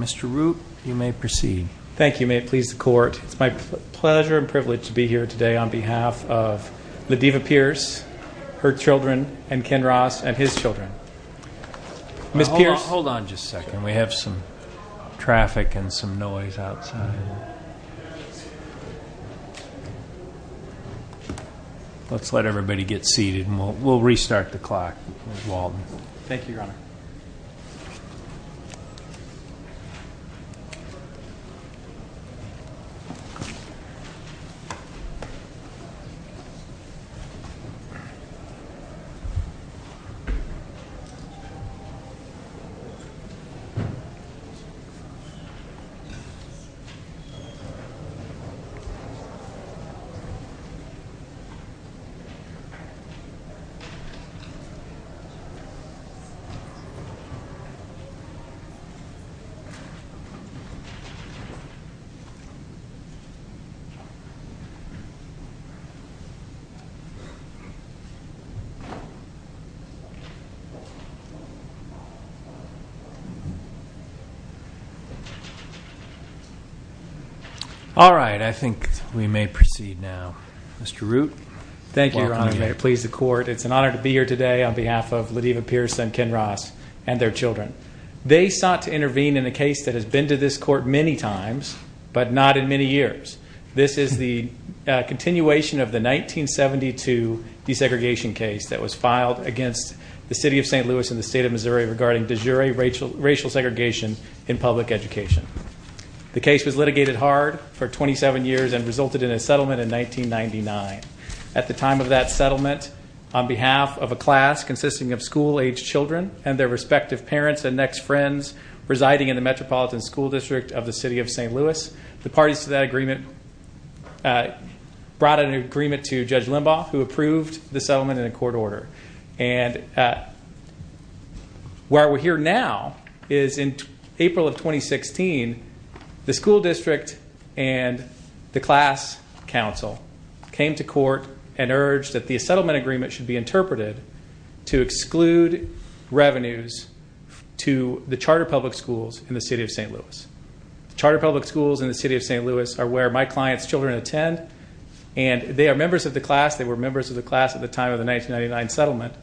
Mr. Root, you may proceed. Thank you. May it please the Court, it's my pleasure and privilege to be here today on behalf of Ledeva Pierce, her children, and Ken Ross, and his children. Hold on just a second. We have some traffic and some noise outside. Let's let everybody get seated and we'll restart the clock. Thank you, Your Honor. All right, I think we may proceed now. Mr. Root. Thank you, Your Honor. May it please the Court, it's an honor to be here today on behalf of Ledeva Pierce and Ken Ross and their children. They sought to intervene in a case that has been to this Court many times, but not in many years. This is the continuation of the 1972 desegregation case that was filed against the City of St. Louis and the State of Missouri regarding de jure racial segregation in public education. The case was litigated hard for 27 years and resulted in a settlement in 1999. At the time of that settlement, on behalf of a class consisting of school-aged children and their respective parents and next friends residing in the Metropolitan School District of the City of St. Louis, the parties to that agreement brought an agreement to Judge Limbaugh, who approved the settlement in a court order. And where we're here now is in April of 2016, the school district and the class council came to court and urged that the settlement agreement should be interpreted to exclude revenues to the charter public schools in the City of St. Louis. Charter public schools in the City of St. Louis are where my client's children attend, and they are members of the class. They were members of the class at the time of the 1999 settlement,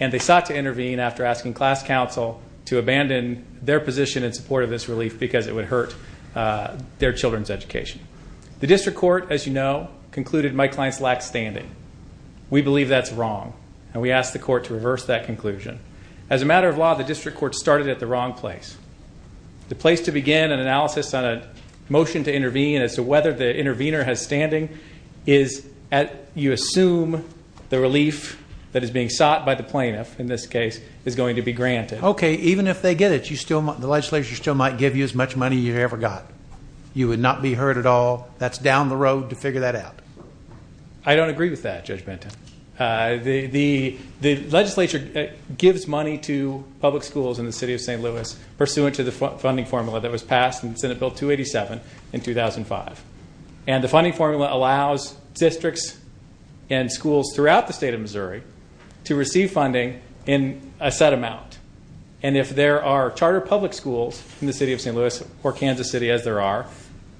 and they sought to intervene after asking class council to abandon their position in support of this relief because it would hurt their children's education. The district court, as you know, concluded my clients lacked standing. We believe that's wrong, and we ask the court to reverse that conclusion. As a matter of law, the district court started at the wrong place. The place to begin an analysis on a motion to intervene as to whether the intervener has standing is you assume the relief that is being sought by the plaintiff in this case is going to be granted. Okay, even if they get it, the legislature still might give you as much money you ever got. You would not be hurt at all. That's down the road to figure that out. I don't agree with that, Judge Benton. The legislature gives money to public schools in the City of St. Louis pursuant to the funding formula that was passed in Senate Bill 287 in 2005. And the funding formula allows districts and schools throughout the state of Missouri to receive funding in a set amount. And if there are charter public schools in the City of St. Louis or Kansas City, as there are,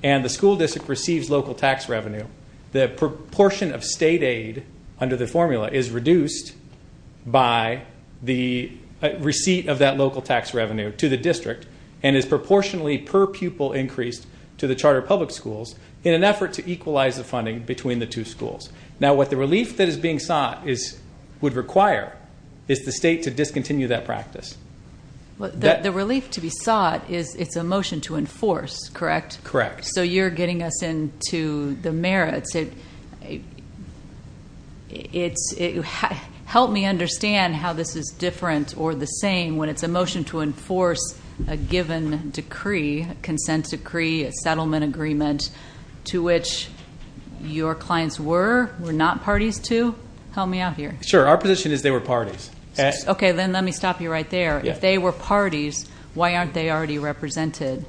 and the school district receives local tax revenue, the proportion of state aid under the formula is reduced by the receipt of that local tax revenue to the district and is proportionally per pupil increased to the charter public schools in an effort to equalize the funding between the two schools. Now, what the relief that is being sought would require is the state to discontinue that practice. The relief to be sought is it's a motion to enforce, correct? Correct. So you're getting us into the merits. Help me understand how this is different or the same when it's a motion to enforce a given decree, a consent decree, a settlement agreement, to which your clients were, were not parties to? Help me out here. Sure. Our position is they were parties. Okay, then let me stop you right there. If they were parties, why aren't they already represented?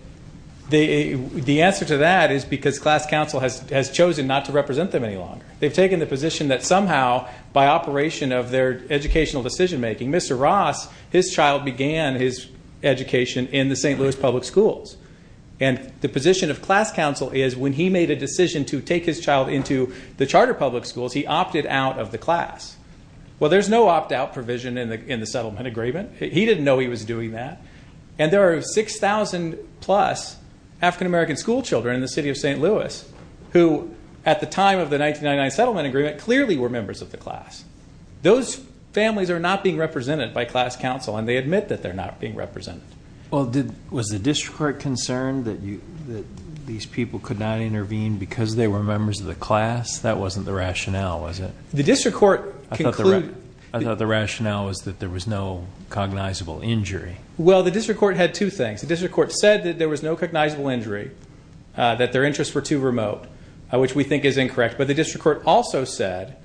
The answer to that is because class council has chosen not to represent them any longer. They've taken the position that somehow by operation of their educational decision-making, Mr. Ross, his child began his education in the St. Louis public schools. And the position of class council is when he made a decision to take his child into the charter public schools, he opted out of the class. Well, there's no opt-out provision in the settlement agreement. He didn't know he was doing that. And there are 6,000-plus African-American schoolchildren in the city of St. Louis who, at the time of the 1999 settlement agreement, clearly were members of the class. Those families are not being represented by class council, and they admit that they're not being represented. Well, was the district court concerned that these people could not intervene because they were members of the class? That wasn't the rationale, was it? The district court concluded that. I thought the rationale was that there was no cognizable injury. Well, the district court had two things. The district court said that there was no cognizable injury, that their interests were too remote, which we think is incorrect. But the district court also said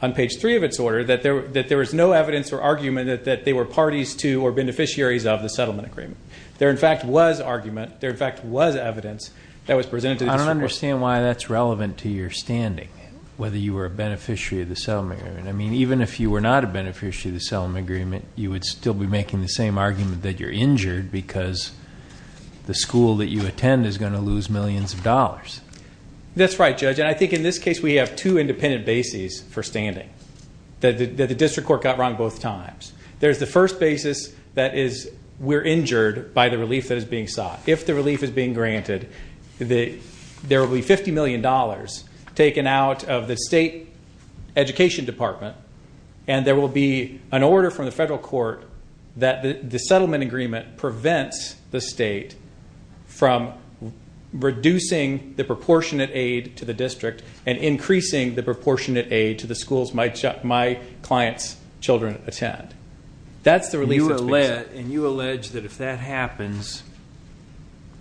on page 3 of its order that there was no evidence or argument that they were parties to or beneficiaries of the settlement agreement. There, in fact, was argument. There, in fact, was evidence that was presented to the district court. I don't understand why that's relevant to your standing, whether you were a beneficiary of the settlement agreement. I mean, even if you were not a beneficiary of the settlement agreement, you would still be making the same argument that you're injured because the school that you attend is going to lose millions of dollars. That's right, Judge, and I think in this case we have two independent bases for standing that the district court got wrong both times. There's the first basis that is we're injured by the relief that is being sought. If the relief is being granted, there will be $50 million taken out of the state education department, and there will be an order from the federal court that the settlement agreement prevents the state from reducing the proportionate aid to the district and increasing the proportionate aid to the schools my client's children attend. That's the relief that's being sought. And you allege that if that happens,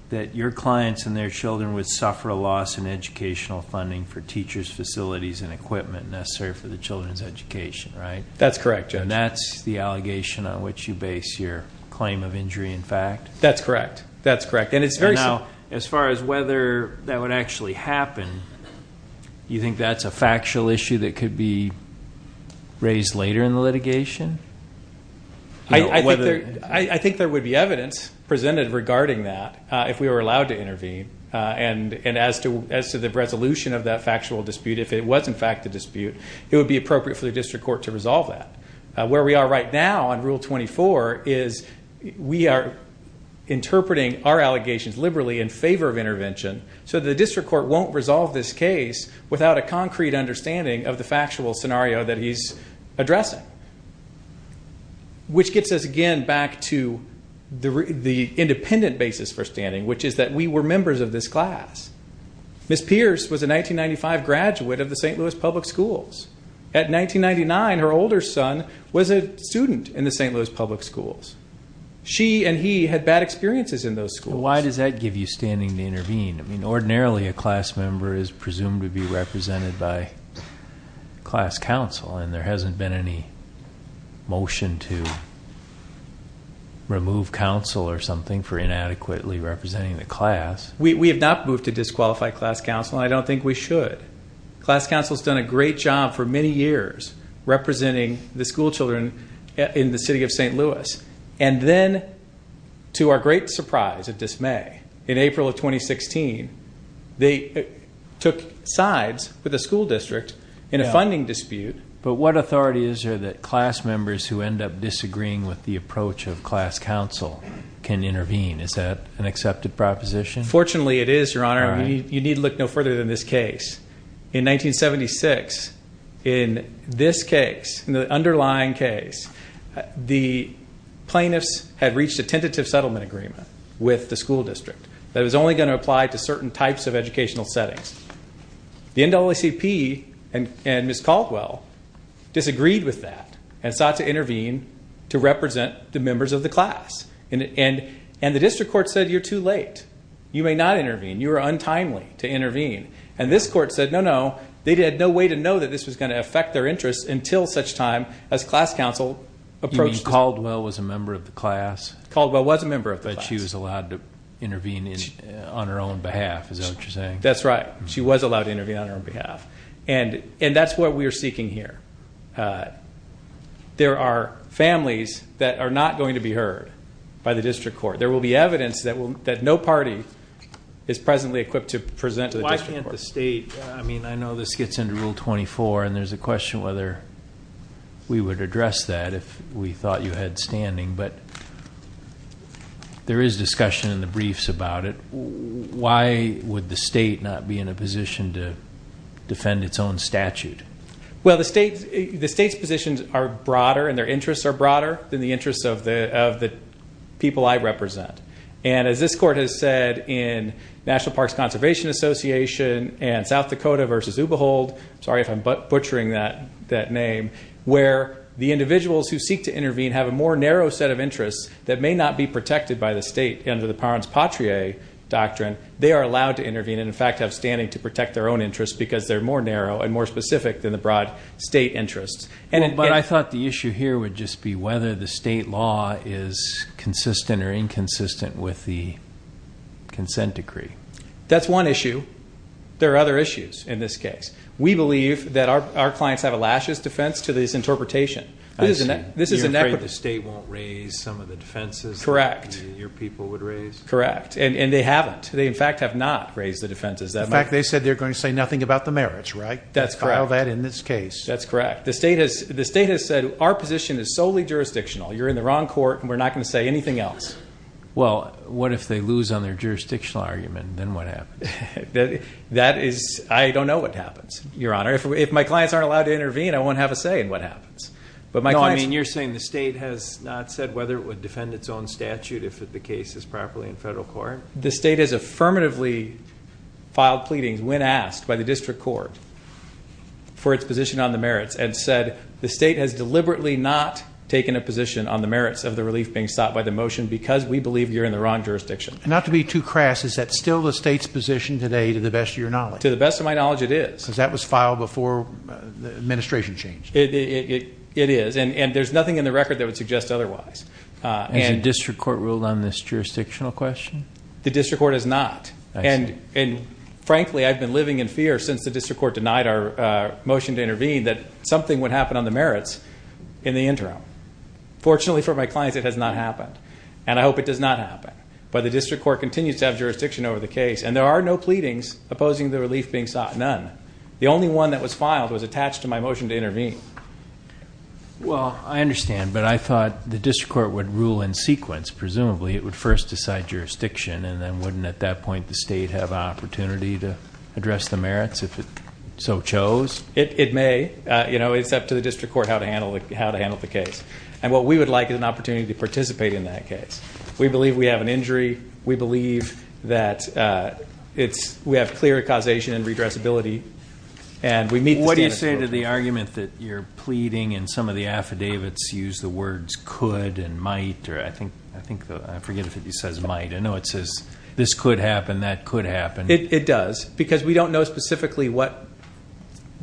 that your clients and their children would suffer a loss in educational funding for teachers' facilities and equipment necessary for the children's education, right? That's correct, Judge. And that's the allegation on which you base your claim of injury in fact? That's correct. That's correct. Now, as far as whether that would actually happen, do you think that's a factual issue that could be raised later in the litigation? I think there would be evidence presented regarding that if we were allowed to intervene. And as to the resolution of that factual dispute, if it was, in fact, a dispute, it would be appropriate for the district court to resolve that. Where we are right now on Rule 24 is we are interpreting our allegations liberally in favor of intervention, so the district court won't resolve this case without a concrete understanding of the factual scenario that he's addressing. Which gets us again back to the independent basis for standing, which is that we were members of this class. Ms. Pierce was a 1995 graduate of the St. Louis Public Schools. At 1999, her older son was a student in the St. Louis Public Schools. She and he had bad experiences in those schools. Why does that give you standing to intervene? I mean, ordinarily a class member is presumed to be represented by class counsel, and there hasn't been any motion to remove counsel or something for inadequately representing the class. We have not moved to disqualify class counsel, and I don't think we should. Class counsel has done a great job for many years representing the schoolchildren in the city of St. Louis. And then, to our great surprise and dismay, in April of 2016, they took sides with the school district in a funding dispute. But what authority is there that class members who end up disagreeing with the approach of class counsel can intervene? Is that an accepted proposition? Fortunately, it is, Your Honor. You need to look no further than this case. In 1976, in this case, in the underlying case, the plaintiffs had reached a tentative settlement agreement with the school district that was only going to apply to certain types of educational settings. The NAACP and Ms. Caldwell disagreed with that and sought to intervene to represent the members of the class. And the district court said, you're too late. You may not intervene. You are untimely to intervene. And this court said, no, no. They had no way to know that this was going to affect their interests until such time as class counsel approached us. You mean Caldwell was a member of the class? Caldwell was a member of the class. But she was allowed to intervene on her own behalf, is that what you're saying? That's right. She was allowed to intervene on her own behalf. And that's what we are seeking here. There are families that are not going to be heard by the district court. There will be evidence that no party is presently equipped to present to the district court. Why can't the state? I mean, I know this gets into Rule 24, and there's a question whether we would address that if we thought you had standing. But there is discussion in the briefs about it. Why would the state not be in a position to defend its own statute? Well, the state's positions are broader and their interests are broader than the interests of the people I represent. And as this court has said in National Parks Conservation Association and South Dakota versus Ubehold, sorry if I'm butchering that name, where the individuals who seek to intervene have a more narrow set of interests that may not be protected by the state. Under the parens patrie doctrine, they are allowed to intervene and, in fact, have standing to protect their own interests because they're more narrow and more specific than the broad state interests. But I thought the issue here would just be whether the state law is consistent or inconsistent with the consent decree. That's one issue. There are other issues in this case. We believe that our clients have a luscious defense to this interpretation. You're afraid the state won't raise some of the defenses that your people would raise? Correct. And they haven't. They, in fact, have not raised the defenses that much. In fact, they said they're going to say nothing about the merits, right? That's correct. They filed that in this case. That's correct. The state has said our position is solely jurisdictional. You're in the wrong court and we're not going to say anything else. Well, what if they lose on their jurisdictional argument? Then what happens? I don't know what happens, Your Honor. If my clients aren't allowed to intervene, I won't have a say in what happens. No, I mean you're saying the state has not said whether it would defend its own statute if the case is properly in federal court? The state has affirmatively filed pleadings when asked by the district court for its position on the merits and said the state has deliberately not taken a position on the merits of the relief being sought by the motion because we believe you're in the wrong jurisdiction. Not to be too crass, is that still the state's position today to the best of your knowledge? To the best of my knowledge, it is. Because that was filed before the administration changed. It is. And there's nothing in the record that would suggest otherwise. Has the district court ruled on this jurisdictional question? The district court has not. And frankly, I've been living in fear since the district court denied our motion to intervene that something would happen on the merits in the interim. Fortunately for my clients, it has not happened. And I hope it does not happen. But the district court continues to have jurisdiction over the case. And there are no pleadings opposing the relief being sought. None. The only one that was filed was attached to my motion to intervene. Well, I understand. But I thought the district court would rule in sequence. Presumably it would first decide jurisdiction and then wouldn't at that point the state have an opportunity to address the merits if it so chose? It may. You know, it's up to the district court how to handle the case. And what we would like is an opportunity to participate in that case. We believe we have an injury. We believe that we have clear causation and redressability. What do you say to the argument that you're pleading and some of the affidavits use the words could and might? I forget if it says might. I know it says this could happen, that could happen. It does. Because we don't know specifically what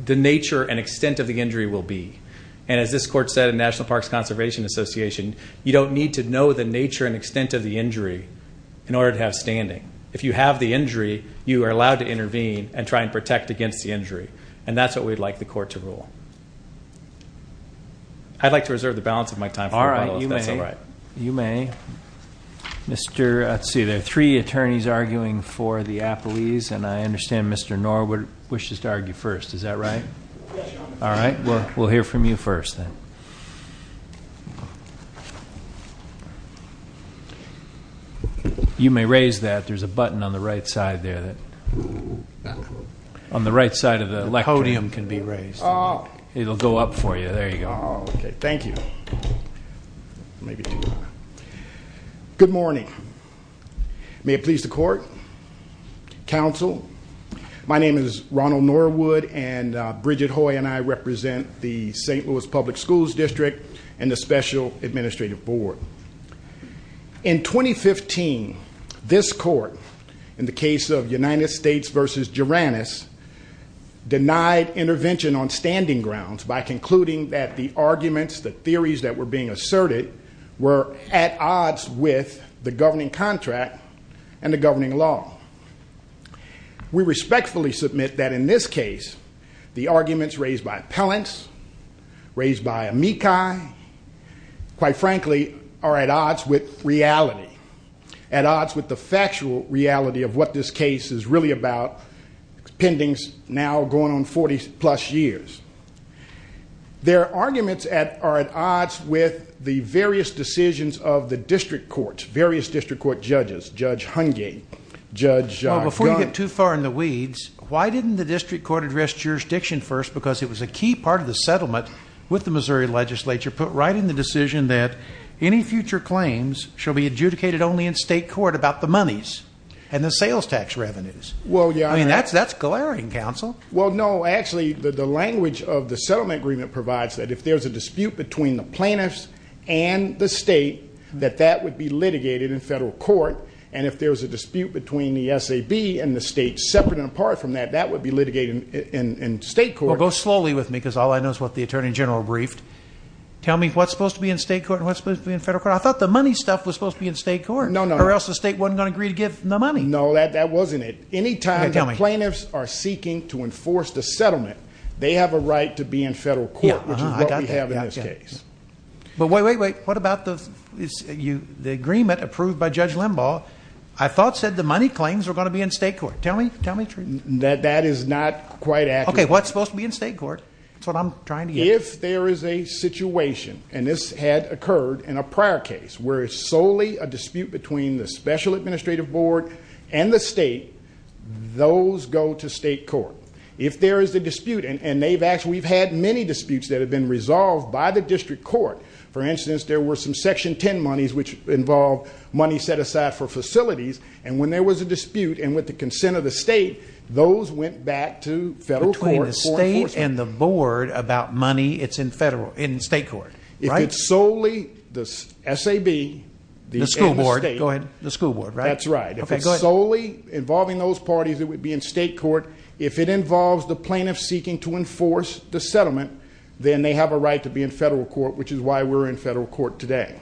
the nature and extent of the injury will be. And as this court said in National Parks Conservation Association, you don't need to know the nature and extent of the injury in order to have standing. If you have the injury, you are allowed to intervene and try and protect against the injury. And that's what we'd like the court to rule. I'd like to reserve the balance of my time. All right. You may. You may. Let's see, there are three attorneys arguing for the appellees, and I understand Mr. Knorr wishes to argue first. Is that right? Yes. All right. We'll hear from you first then. You may raise that. There's a button on the right side there. On the right side of the podium can be raised. It'll go up for you. There you go. Okay. Thank you. Good morning. May it please the court, counsel. My name is Ronald Knorr Wood, and Bridget Hoy and I represent the St. Louis Public Schools District and the Special Administrative Board. In 2015, this court, in the case of United States v. Juranis, denied intervention on standing grounds by concluding that the arguments, the theories that were being asserted were at odds with the governing contract and the governing law. We respectfully submit that in this case, the arguments raised by appellants, raised by amici, quite frankly, are at odds with reality, at odds with the factual reality of what this case is really about, pending now going on 40-plus years. Their arguments are at odds with the various decisions of the district courts, various district court judges, Judge Hungate, Judge Gunn. Before you get too far in the weeds, why didn't the district court address jurisdiction first? Because it was a key part of the settlement with the Missouri legislature, put right in the decision that any future claims shall be adjudicated only in state court about the monies and the sales tax revenues. I mean, that's glaring, counsel. Well, no. Actually, the language of the settlement agreement provides that if there's a dispute between the plaintiffs and the state, that that would be litigated in federal court. And if there's a dispute between the SAB and the state separate and apart from that, that would be litigated in state court. Well, go slowly with me because all I know is what the Attorney General briefed. Tell me what's supposed to be in state court and what's supposed to be in federal court. I thought the money stuff was supposed to be in state court. No, no. Or else the state wasn't going to agree to give the money. No, that wasn't it. Anytime the plaintiffs are seeking to enforce the settlement, they have a right to be in federal court, which is what we have in this case. But wait, wait, wait. What about the agreement approved by Judge Limbaugh? I thought said the money claims were going to be in state court. Tell me the truth. That is not quite accurate. Okay. What's supposed to be in state court? That's what I'm trying to get at. If there is a situation, and this had occurred in a prior case, where it's solely a dispute between the special administrative board and the state, those go to state court. If there is a dispute, and we've had many disputes that have been resolved by the district court. For instance, there were some Section 10 monies, which involved money set aside for facilities. And when there was a dispute, and with the consent of the state, those went back to federal court. Between the state and the board about money, it's in state court, right? If it's solely the SAB and the state. The school board. Go ahead. The school board, right? That's right. If it's solely involving those parties, it would be in state court. If it involves the plaintiff seeking to enforce the settlement, then they have a right to be in federal court, which is why we're in federal court today.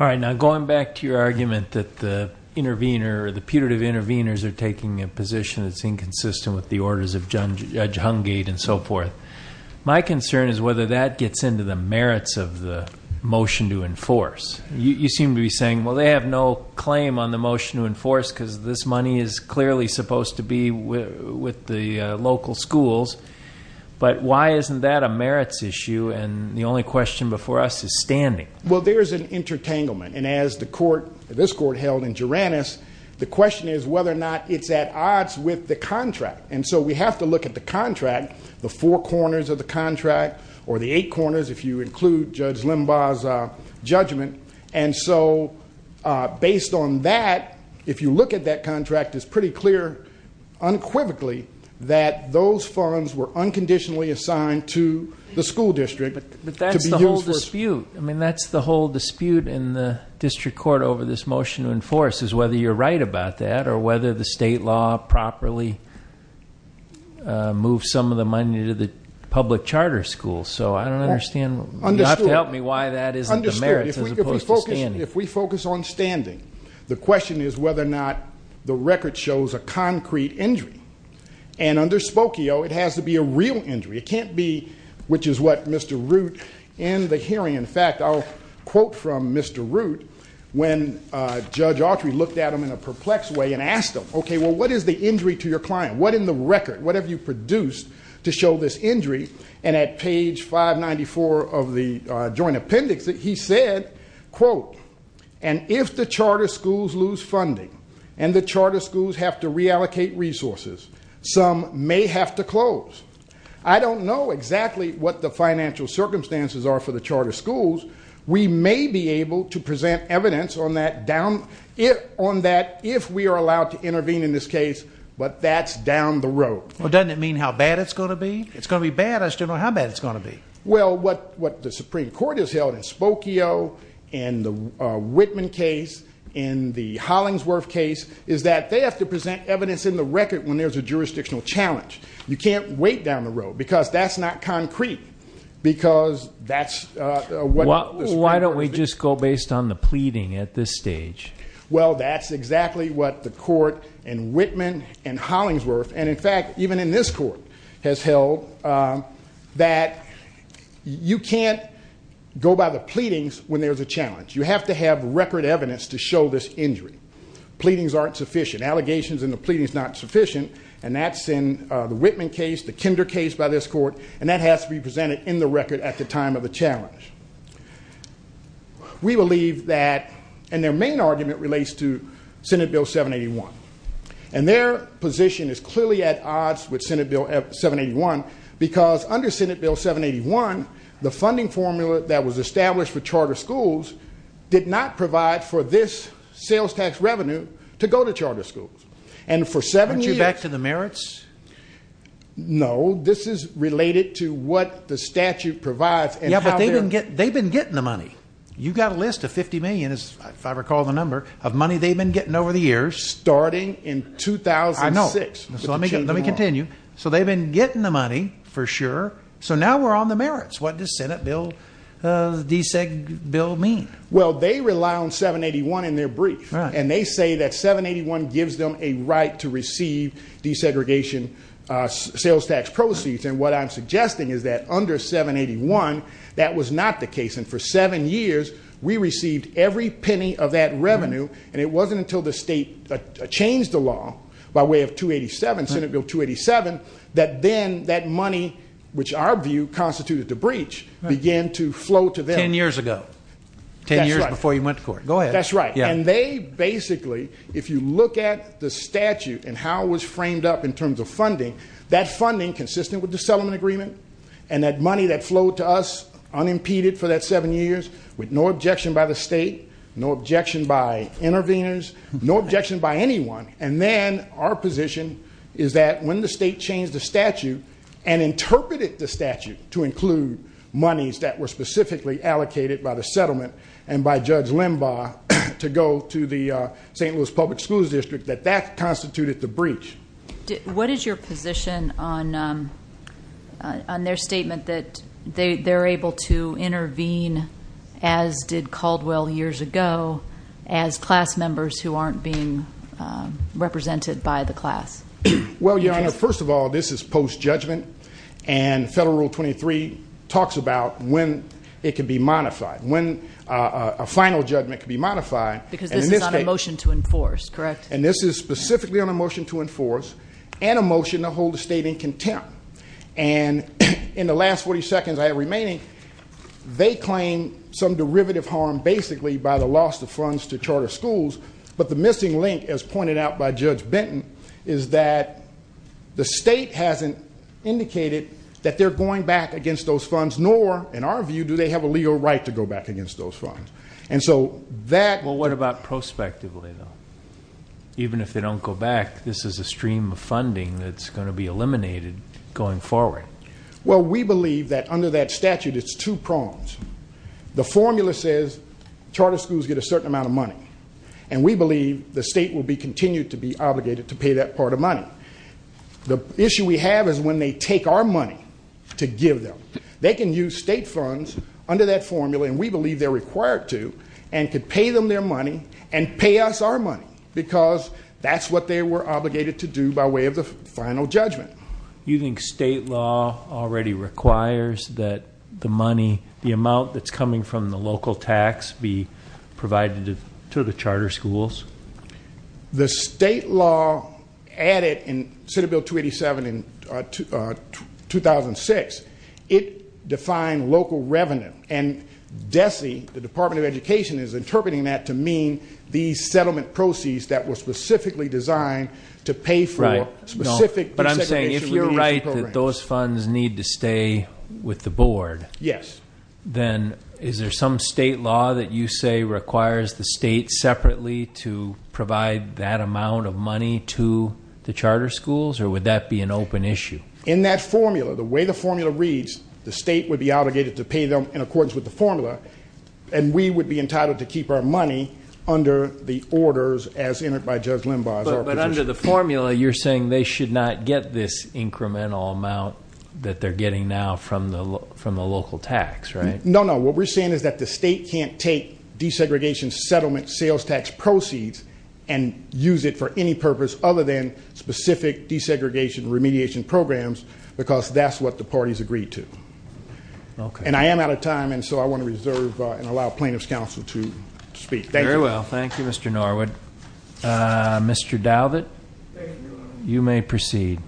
All right. Now, going back to your argument that the intervener, the putative interveners, are taking a position that's inconsistent with the orders of Judge Hungate and so forth, my concern is whether that gets into the merits of the motion to enforce. You seem to be saying, well, they have no claim on the motion to enforce, because this money is clearly supposed to be with the local schools. But why isn't that a merits issue, and the only question before us is standing? Well, there is an intertanglement. And as this court held in Geranus, the question is whether or not it's at odds with the contract. And so we have to look at the contract, the four corners of the contract, or the eight corners if you include Judge Limbaugh's judgment. And so based on that, if you look at that contract, it's pretty clear unquivocally that those funds were unconditionally assigned to the school district. But that's the whole dispute. I mean, that's the whole dispute in the district court over this motion to enforce, is whether you're right about that or whether the state law properly moved some of the money to the public charter schools. So I don't understand. You'll have to help me why that isn't the merits as opposed to standing. Understood. If we focus on standing, the question is whether or not the record shows a concrete injury. And under Spokio, it has to be a real injury. It can't be, which is what Mr. Root in the hearing, in fact, I'll quote from Mr. Root, when Judge Autry looked at him in a perplexed way and asked him, okay, well, what is the injury to your client? What in the record, what have you produced to show this injury? And at page 594 of the joint appendix, he said, quote, and if the charter schools lose funding and the charter schools have to reallocate resources, some may have to close. I don't know exactly what the financial circumstances are for the charter schools. We may be able to present evidence on that if we are allowed to intervene in this case, but that's down the road. Well, doesn't it mean how bad it's going to be? It's going to be bad. I still don't know how bad it's going to be. Well, what the Supreme Court has held in Spokio, in the Whitman case, in the Hollingsworth case is that they have to present evidence in the record when there's a jurisdictional challenge. You can't wait down the road because that's not concrete because that's what the Supreme Court has said. Why don't we just go based on the pleading at this stage? Well, that's exactly what the court in Whitman and Hollingsworth, and, in fact, even in this court has held, that you can't go by the pleadings when there's a challenge. You have to have record evidence to show this injury. Pleadings aren't sufficient. Allegations in the pleading is not sufficient, and that's in the Whitman case, the Kinder case by this court, and that has to be presented in the record at the time of the challenge. We believe that, and their main argument relates to Senate Bill 781, and their position is clearly at odds with Senate Bill 781 because under Senate Bill 781, the funding formula that was established for charter schools did not provide for this sales tax revenue to go to charter schools. Aren't you back to the merits? No. This is related to what the statute provides. Yeah, but they've been getting the money. You've got a list of $50 million, if I recall the number, of money they've been getting over the years. Starting in 2006. I know. Let me continue. So they've been getting the money, for sure. So now we're on the merits. What does Senate Bill DSEG bill mean? Well, they rely on 781 in their brief. Right. And they say that 781 gives them a right to receive desegregation sales tax proceeds, and what I'm suggesting is that under 781, that was not the case, and for seven years we received every penny of that revenue, and it wasn't until the state changed the law by way of 287, Senate Bill 287, that then that money, which our view constituted the breach, began to flow to them. Ten years ago. That's right. Ten years before you went to court. Go ahead. That's right. And they basically, if you look at the statute and how it was framed up in terms of funding, that funding consistent with the settlement agreement, and that money that flowed to us unimpeded for that seven years with no objection by the state, no objection by interveners, no objection by anyone, and then our position is that when the state changed the statute and interpreted the statute to include monies that were specifically allocated by the settlement and by Judge Limbaugh to go to the St. Louis Public Schools District, that that constituted the breach. What is your position on their statement that they're able to intervene, as did Caldwell years ago, as class members who aren't being represented by the class? Well, Your Honor, first of all, this is post-judgment, and Federal Rule 23 talks about when it can be modified, when a final judgment can be modified. Because this is on a motion to enforce, correct? And this is specifically on a motion to enforce and a motion to hold the state in contempt. And in the last 40 seconds I have remaining, they claim some derivative harm basically by the loss of funds to charter schools, but the missing link, as pointed out by Judge Benton, is that the state hasn't indicated that they're going back against those funds, nor, in our view, do they have a legal right to go back against those funds. Well, what about prospectively, though? Even if they don't go back, this is a stream of funding that's going to be eliminated going forward. Well, we believe that under that statute it's two prongs. The formula says charter schools get a certain amount of money, and we believe the state will continue to be obligated to pay that part of money. The issue we have is when they take our money to give them. They can use state funds under that formula, and we believe they're required to, and could pay them their money and pay us our money, because that's what they were obligated to do by way of the final judgment. You think state law already requires that the money, the amount that's coming from the local tax be provided to the charter schools? The state law added in Senate Bill 287 in 2006, it defined local revenue, and DESE, the Department of Education, is interpreting that to mean these settlement proceeds that were specifically designed to pay for specific- But I'm saying if you're right that those funds need to stay with the board- Yes. Then is there some state law that you say requires the state separately to provide that amount of money to the charter schools, or would that be an open issue? In that formula, the way the formula reads, the state would be obligated to pay them in accordance with the formula, and we would be entitled to keep our money under the orders as entered by Judge Limbaugh. But under the formula, you're saying they should not get this incremental amount that they're getting now from the local tax, right? No, no. What we're saying is that the state can't take desegregation settlement sales tax proceeds and use it for any purpose other than specific desegregation remediation programs, because that's what the parties agreed to. Okay. And I am out of time, and so I want to reserve and allow plaintiff's counsel to speak. Thank you. Very well. Thank you, Mr. Norwood. Mr. Dowthit, you may proceed.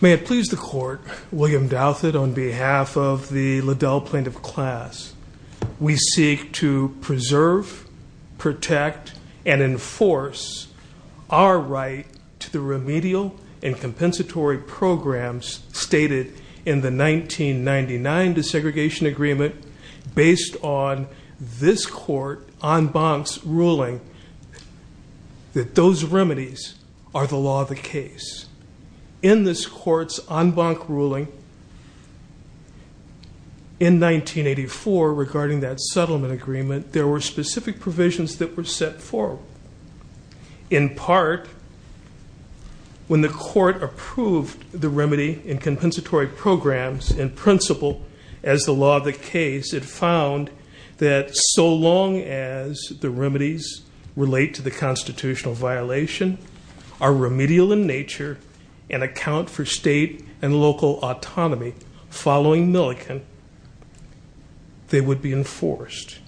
May it please the court, William Dowthit, on behalf of the Liddell plaintiff class, we seek to preserve, protect, and enforce our right to the remedial and compensatory programs stated in the 1999 desegregation agreement based on this court en banc's ruling that those remedies are the law of the case. In this court's en banc ruling in 1984 regarding that settlement agreement, there were specific provisions that were set forth. In part, when the court approved the remedy and compensatory programs in principle as the law of the case, it found that so long as the remedies relate to the constitutional violation, are remedial in nature, and account for state and local autonomy following Milliken, they would be enforced.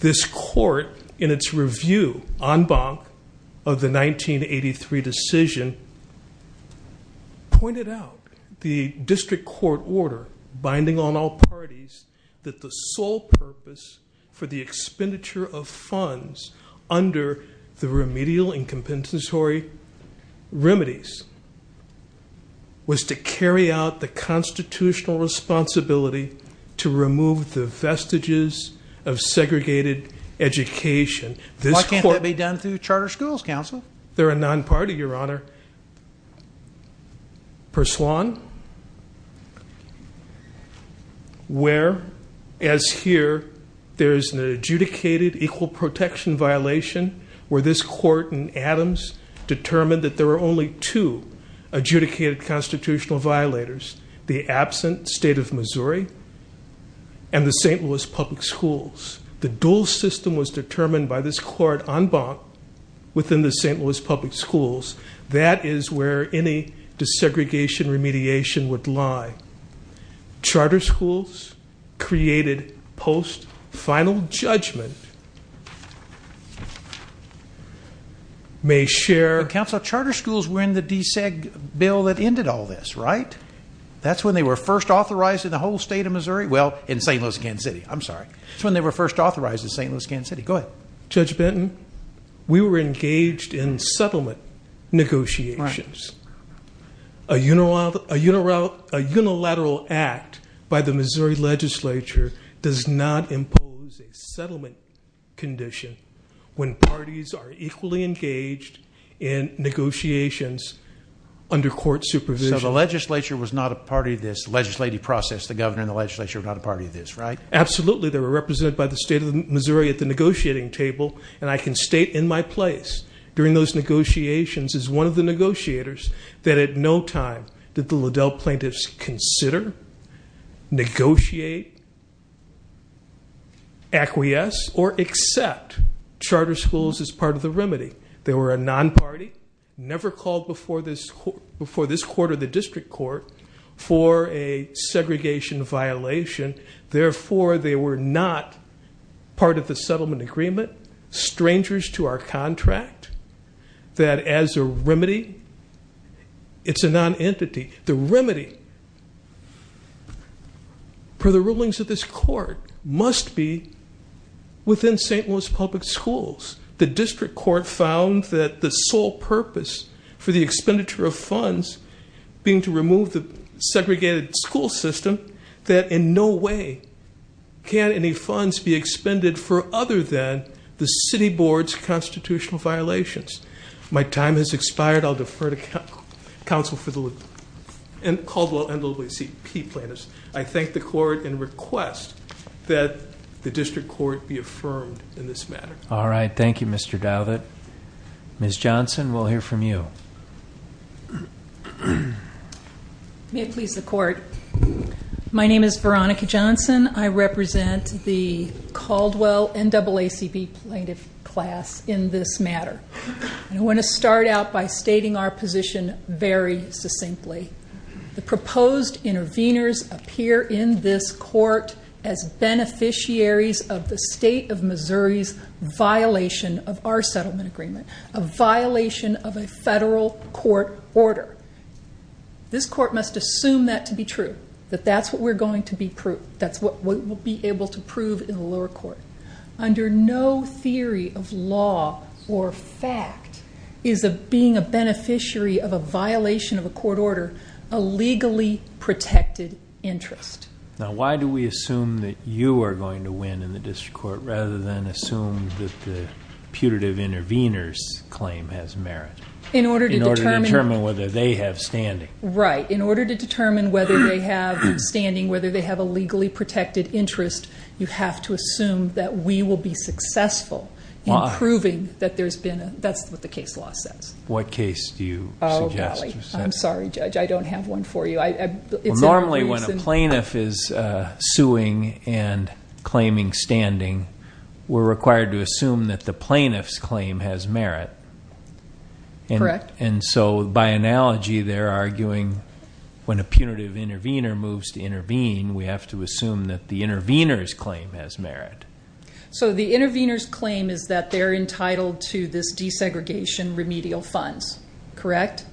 This court, in its review en banc of the 1983 decision, pointed out the district court order binding on all parties that the sole purpose for the expenditure of funds under the remedial and compensatory remedies was to carry out the constitutional responsibility to remove the vestiges of segregated education. Why can't that be done through charter schools, counsel? They're a non-party, your honor. Pursuant where, as here, there is an adjudicated equal protection violation where this court in Adams determined that there were only two adjudicated constitutional violators, the absent state of Missouri and the St. Louis public schools. The dual system was determined by this court en banc within the St. Louis public schools. That is where any desegregation remediation would lie. Charter schools created post-final judgment may share- Counsel, charter schools were in the deseg bill that ended all this, right? That's when they were first authorized in the whole state of Missouri? Well, in St. Louis, Kansas City, I'm sorry. That's when they were first authorized in St. Louis, Kansas City. Go ahead. Judge Benton, we were engaged in settlement negotiations. A unilateral act by the Missouri legislature does not impose a settlement condition when parties are equally engaged in negotiations under court supervision. So the legislature was not a part of this legislative process. The governor and the legislature were not a part of this, right? Absolutely. They were represented by the state of Missouri at the negotiating table, and I can state in my place during those negotiations as one of the negotiators that at no time did the Liddell plaintiffs consider, negotiate, acquiesce, or accept charter schools as part of the remedy. They were a non-party, never called before this court or the district court for a segregation violation. Therefore, they were not part of the settlement agreement, strangers to our contract, that as a remedy, it's a non-entity. The remedy for the rulings of this court must be within St. Louis public schools. The district court found that the sole purpose for the expenditure of funds being to remove the segregated school system, that in no way can any funds be the city board's constitutional violations. My time has expired. I'll defer to counsel for the Caldwell NAACP plaintiffs. I thank the court and request that the district court be affirmed in this matter. All right. Thank you, Mr. Dowlett. Ms. Johnson, we'll hear from you. May it please the court. My name is Veronica Johnson. I represent the Caldwell NAACP plaintiff class in this matter. I want to start out by stating our position very succinctly. The proposed intervenors appear in this court as beneficiaries of the state of Missouri's violation of our settlement agreement, a violation of a federal court order. This court must assume that to be true, that that's what we're going to be proved, that's what we'll be able to prove in the lower court. Under no theory of law or fact is being a beneficiary of a violation of a court order a legally protected interest. Now, why do we assume that you are going to win in the district court rather than assume that the putative intervenors' claim has merit? In order to determine whether they have standing. Right. In order to determine whether they have standing, whether they have a legally protected interest, you have to assume that we will be successful in proving that there's been a that's what the case law says. What case do you suggest? Oh, golly. I'm sorry, Judge. I don't have one for you. Normally when a plaintiff is suing and claiming standing, we're required to assume that the plaintiff's claim has merit. Correct. And so, by analogy, they're arguing when a punitive intervener moves to intervene, we have to assume that the intervener's claim has merit. So the intervener's claim is that they're entitled to this desegregation remedial funds. Correct?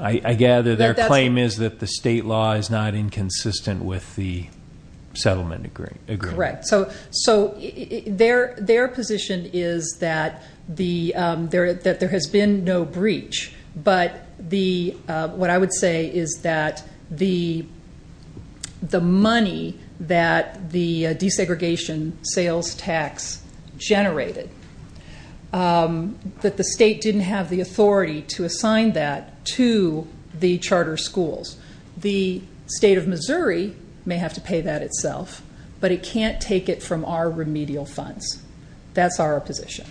I gather their claim is that the state law is not inconsistent with the settlement agreement. Correct. Their position is that there has been no breach, but what I would say is that the money that the desegregation sales tax generated, that the state didn't have the authority to assign that to the charter schools. The state of Missouri may have to pay that itself, but it can't take it from our remedial funds. That's our position.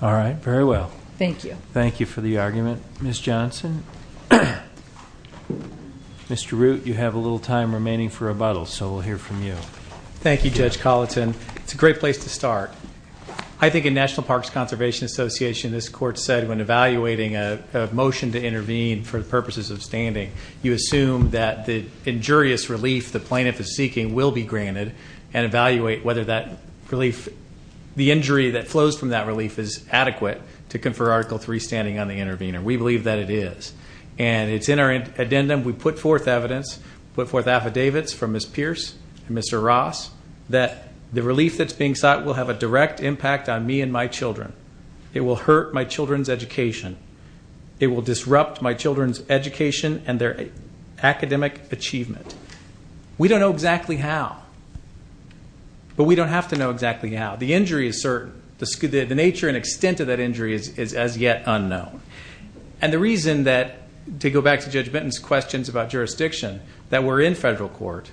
All right. Very well. Thank you. Thank you for the argument, Ms. Johnson. Mr. Root, you have a little time remaining for rebuttal, so we'll hear from you. Thank you, Judge Colleton. It's a great place to start. I think in National Parks Conservation Association, this court said when evaluating a motion to intervene for the purposes of standing, you assume that the injurious relief the plaintiff is seeking will be granted and evaluate whether that relief, the injury that flows from that relief, is adequate to confer Article III standing on the intervener. We believe that it is, and it's in our addendum. We put forth evidence, put forth affidavits from Ms. Pierce and Mr. Ross, that the relief that's being sought will have a direct impact on me and my children. It will hurt my children's education. It will disrupt my children's education and their academic achievement. We don't know exactly how, but we don't have to know exactly how. The injury is certain. The nature and extent of that injury is as yet unknown. And the reason that, to go back to Judge Benton's questions about jurisdiction, that we're in federal court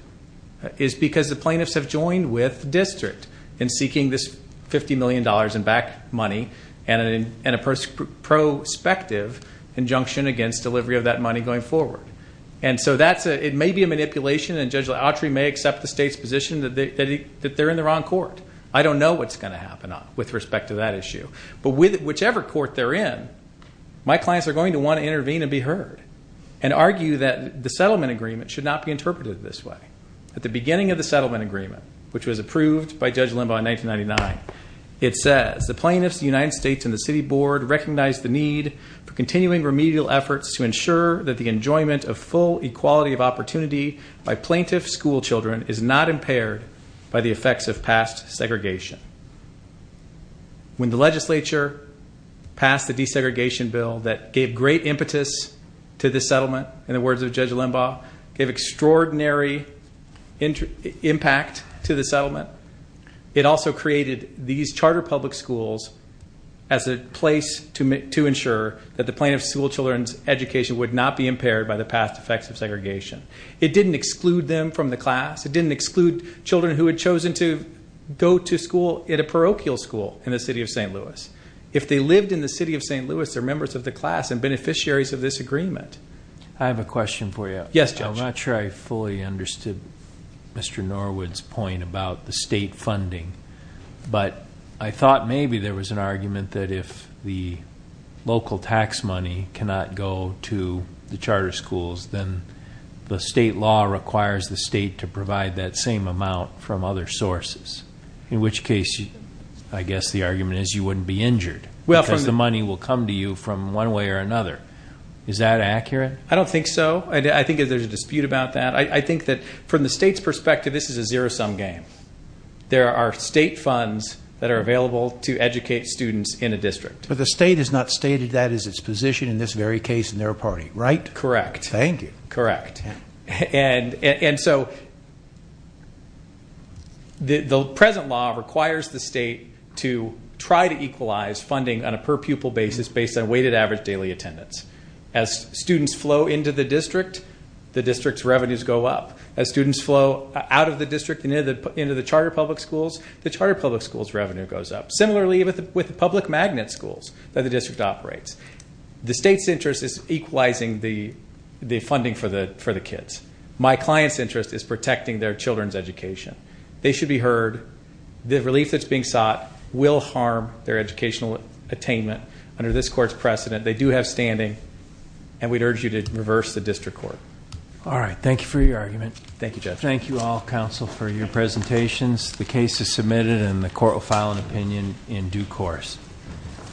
is because the plaintiffs have joined with the district in seeking this $50 million in back money and a prospective injunction against delivery of that money going forward. And so it may be a manipulation, and Judge Lautry may accept the state's position that they're in the wrong court. I don't know what's going to happen with respect to that issue. But whichever court they're in, my clients are going to want to intervene and be heard and argue that the settlement agreement should not be interpreted this way. At the beginning of the settlement agreement, which was approved by Judge Limbaugh in 1999, it says, When the legislature passed the desegregation bill that gave great impetus to this settlement, in the words of Judge Limbaugh, gave extraordinary impact to the settlement, it also created these charter public schools as a place to ensure that the plaintiff's school children's education would not be impaired by the past effects of segregation. It didn't exclude them from the class. It didn't exclude children who had chosen to go to school at a parochial school in the city of St. Louis. If they lived in the city of St. Louis, they're members of the class and beneficiaries of this agreement. I have a question for you. Yes, Judge. I'm not sure I fully understood Mr. Norwood's point about the state funding, but I thought maybe there was an argument that if the local tax money cannot go to the charter schools, then the state law requires the state to provide that same amount from other sources, in which case I guess the argument is you wouldn't be injured because the money will come to you from one way or another. Is that accurate? I don't think so. I think there's a dispute about that. I think that from the state's perspective, this is a zero-sum game. There are state funds that are available to educate students in a district. But the state has not stated that as its position in this very case in their party, right? Correct. Thank you. Correct. And so the present law requires the state to try to equalize funding on a per-pupil basis based on weighted average daily attendance. As students flow into the district, the district's revenues go up. As students flow out of the district and into the charter public schools, the charter public schools' revenue goes up, similarly with the public magnet schools that the district operates. The state's interest is equalizing the funding for the kids. My client's interest is protecting their children's education. They should be heard. The relief that's being sought will harm their educational attainment. Under this court's precedent, they do have standing, and we'd urge you to reverse the district court. All right. Thank you for your argument. Thank you, Judge. Thank you all, counsel, for your presentations. The case is submitted, and the court will file an opinion in due course.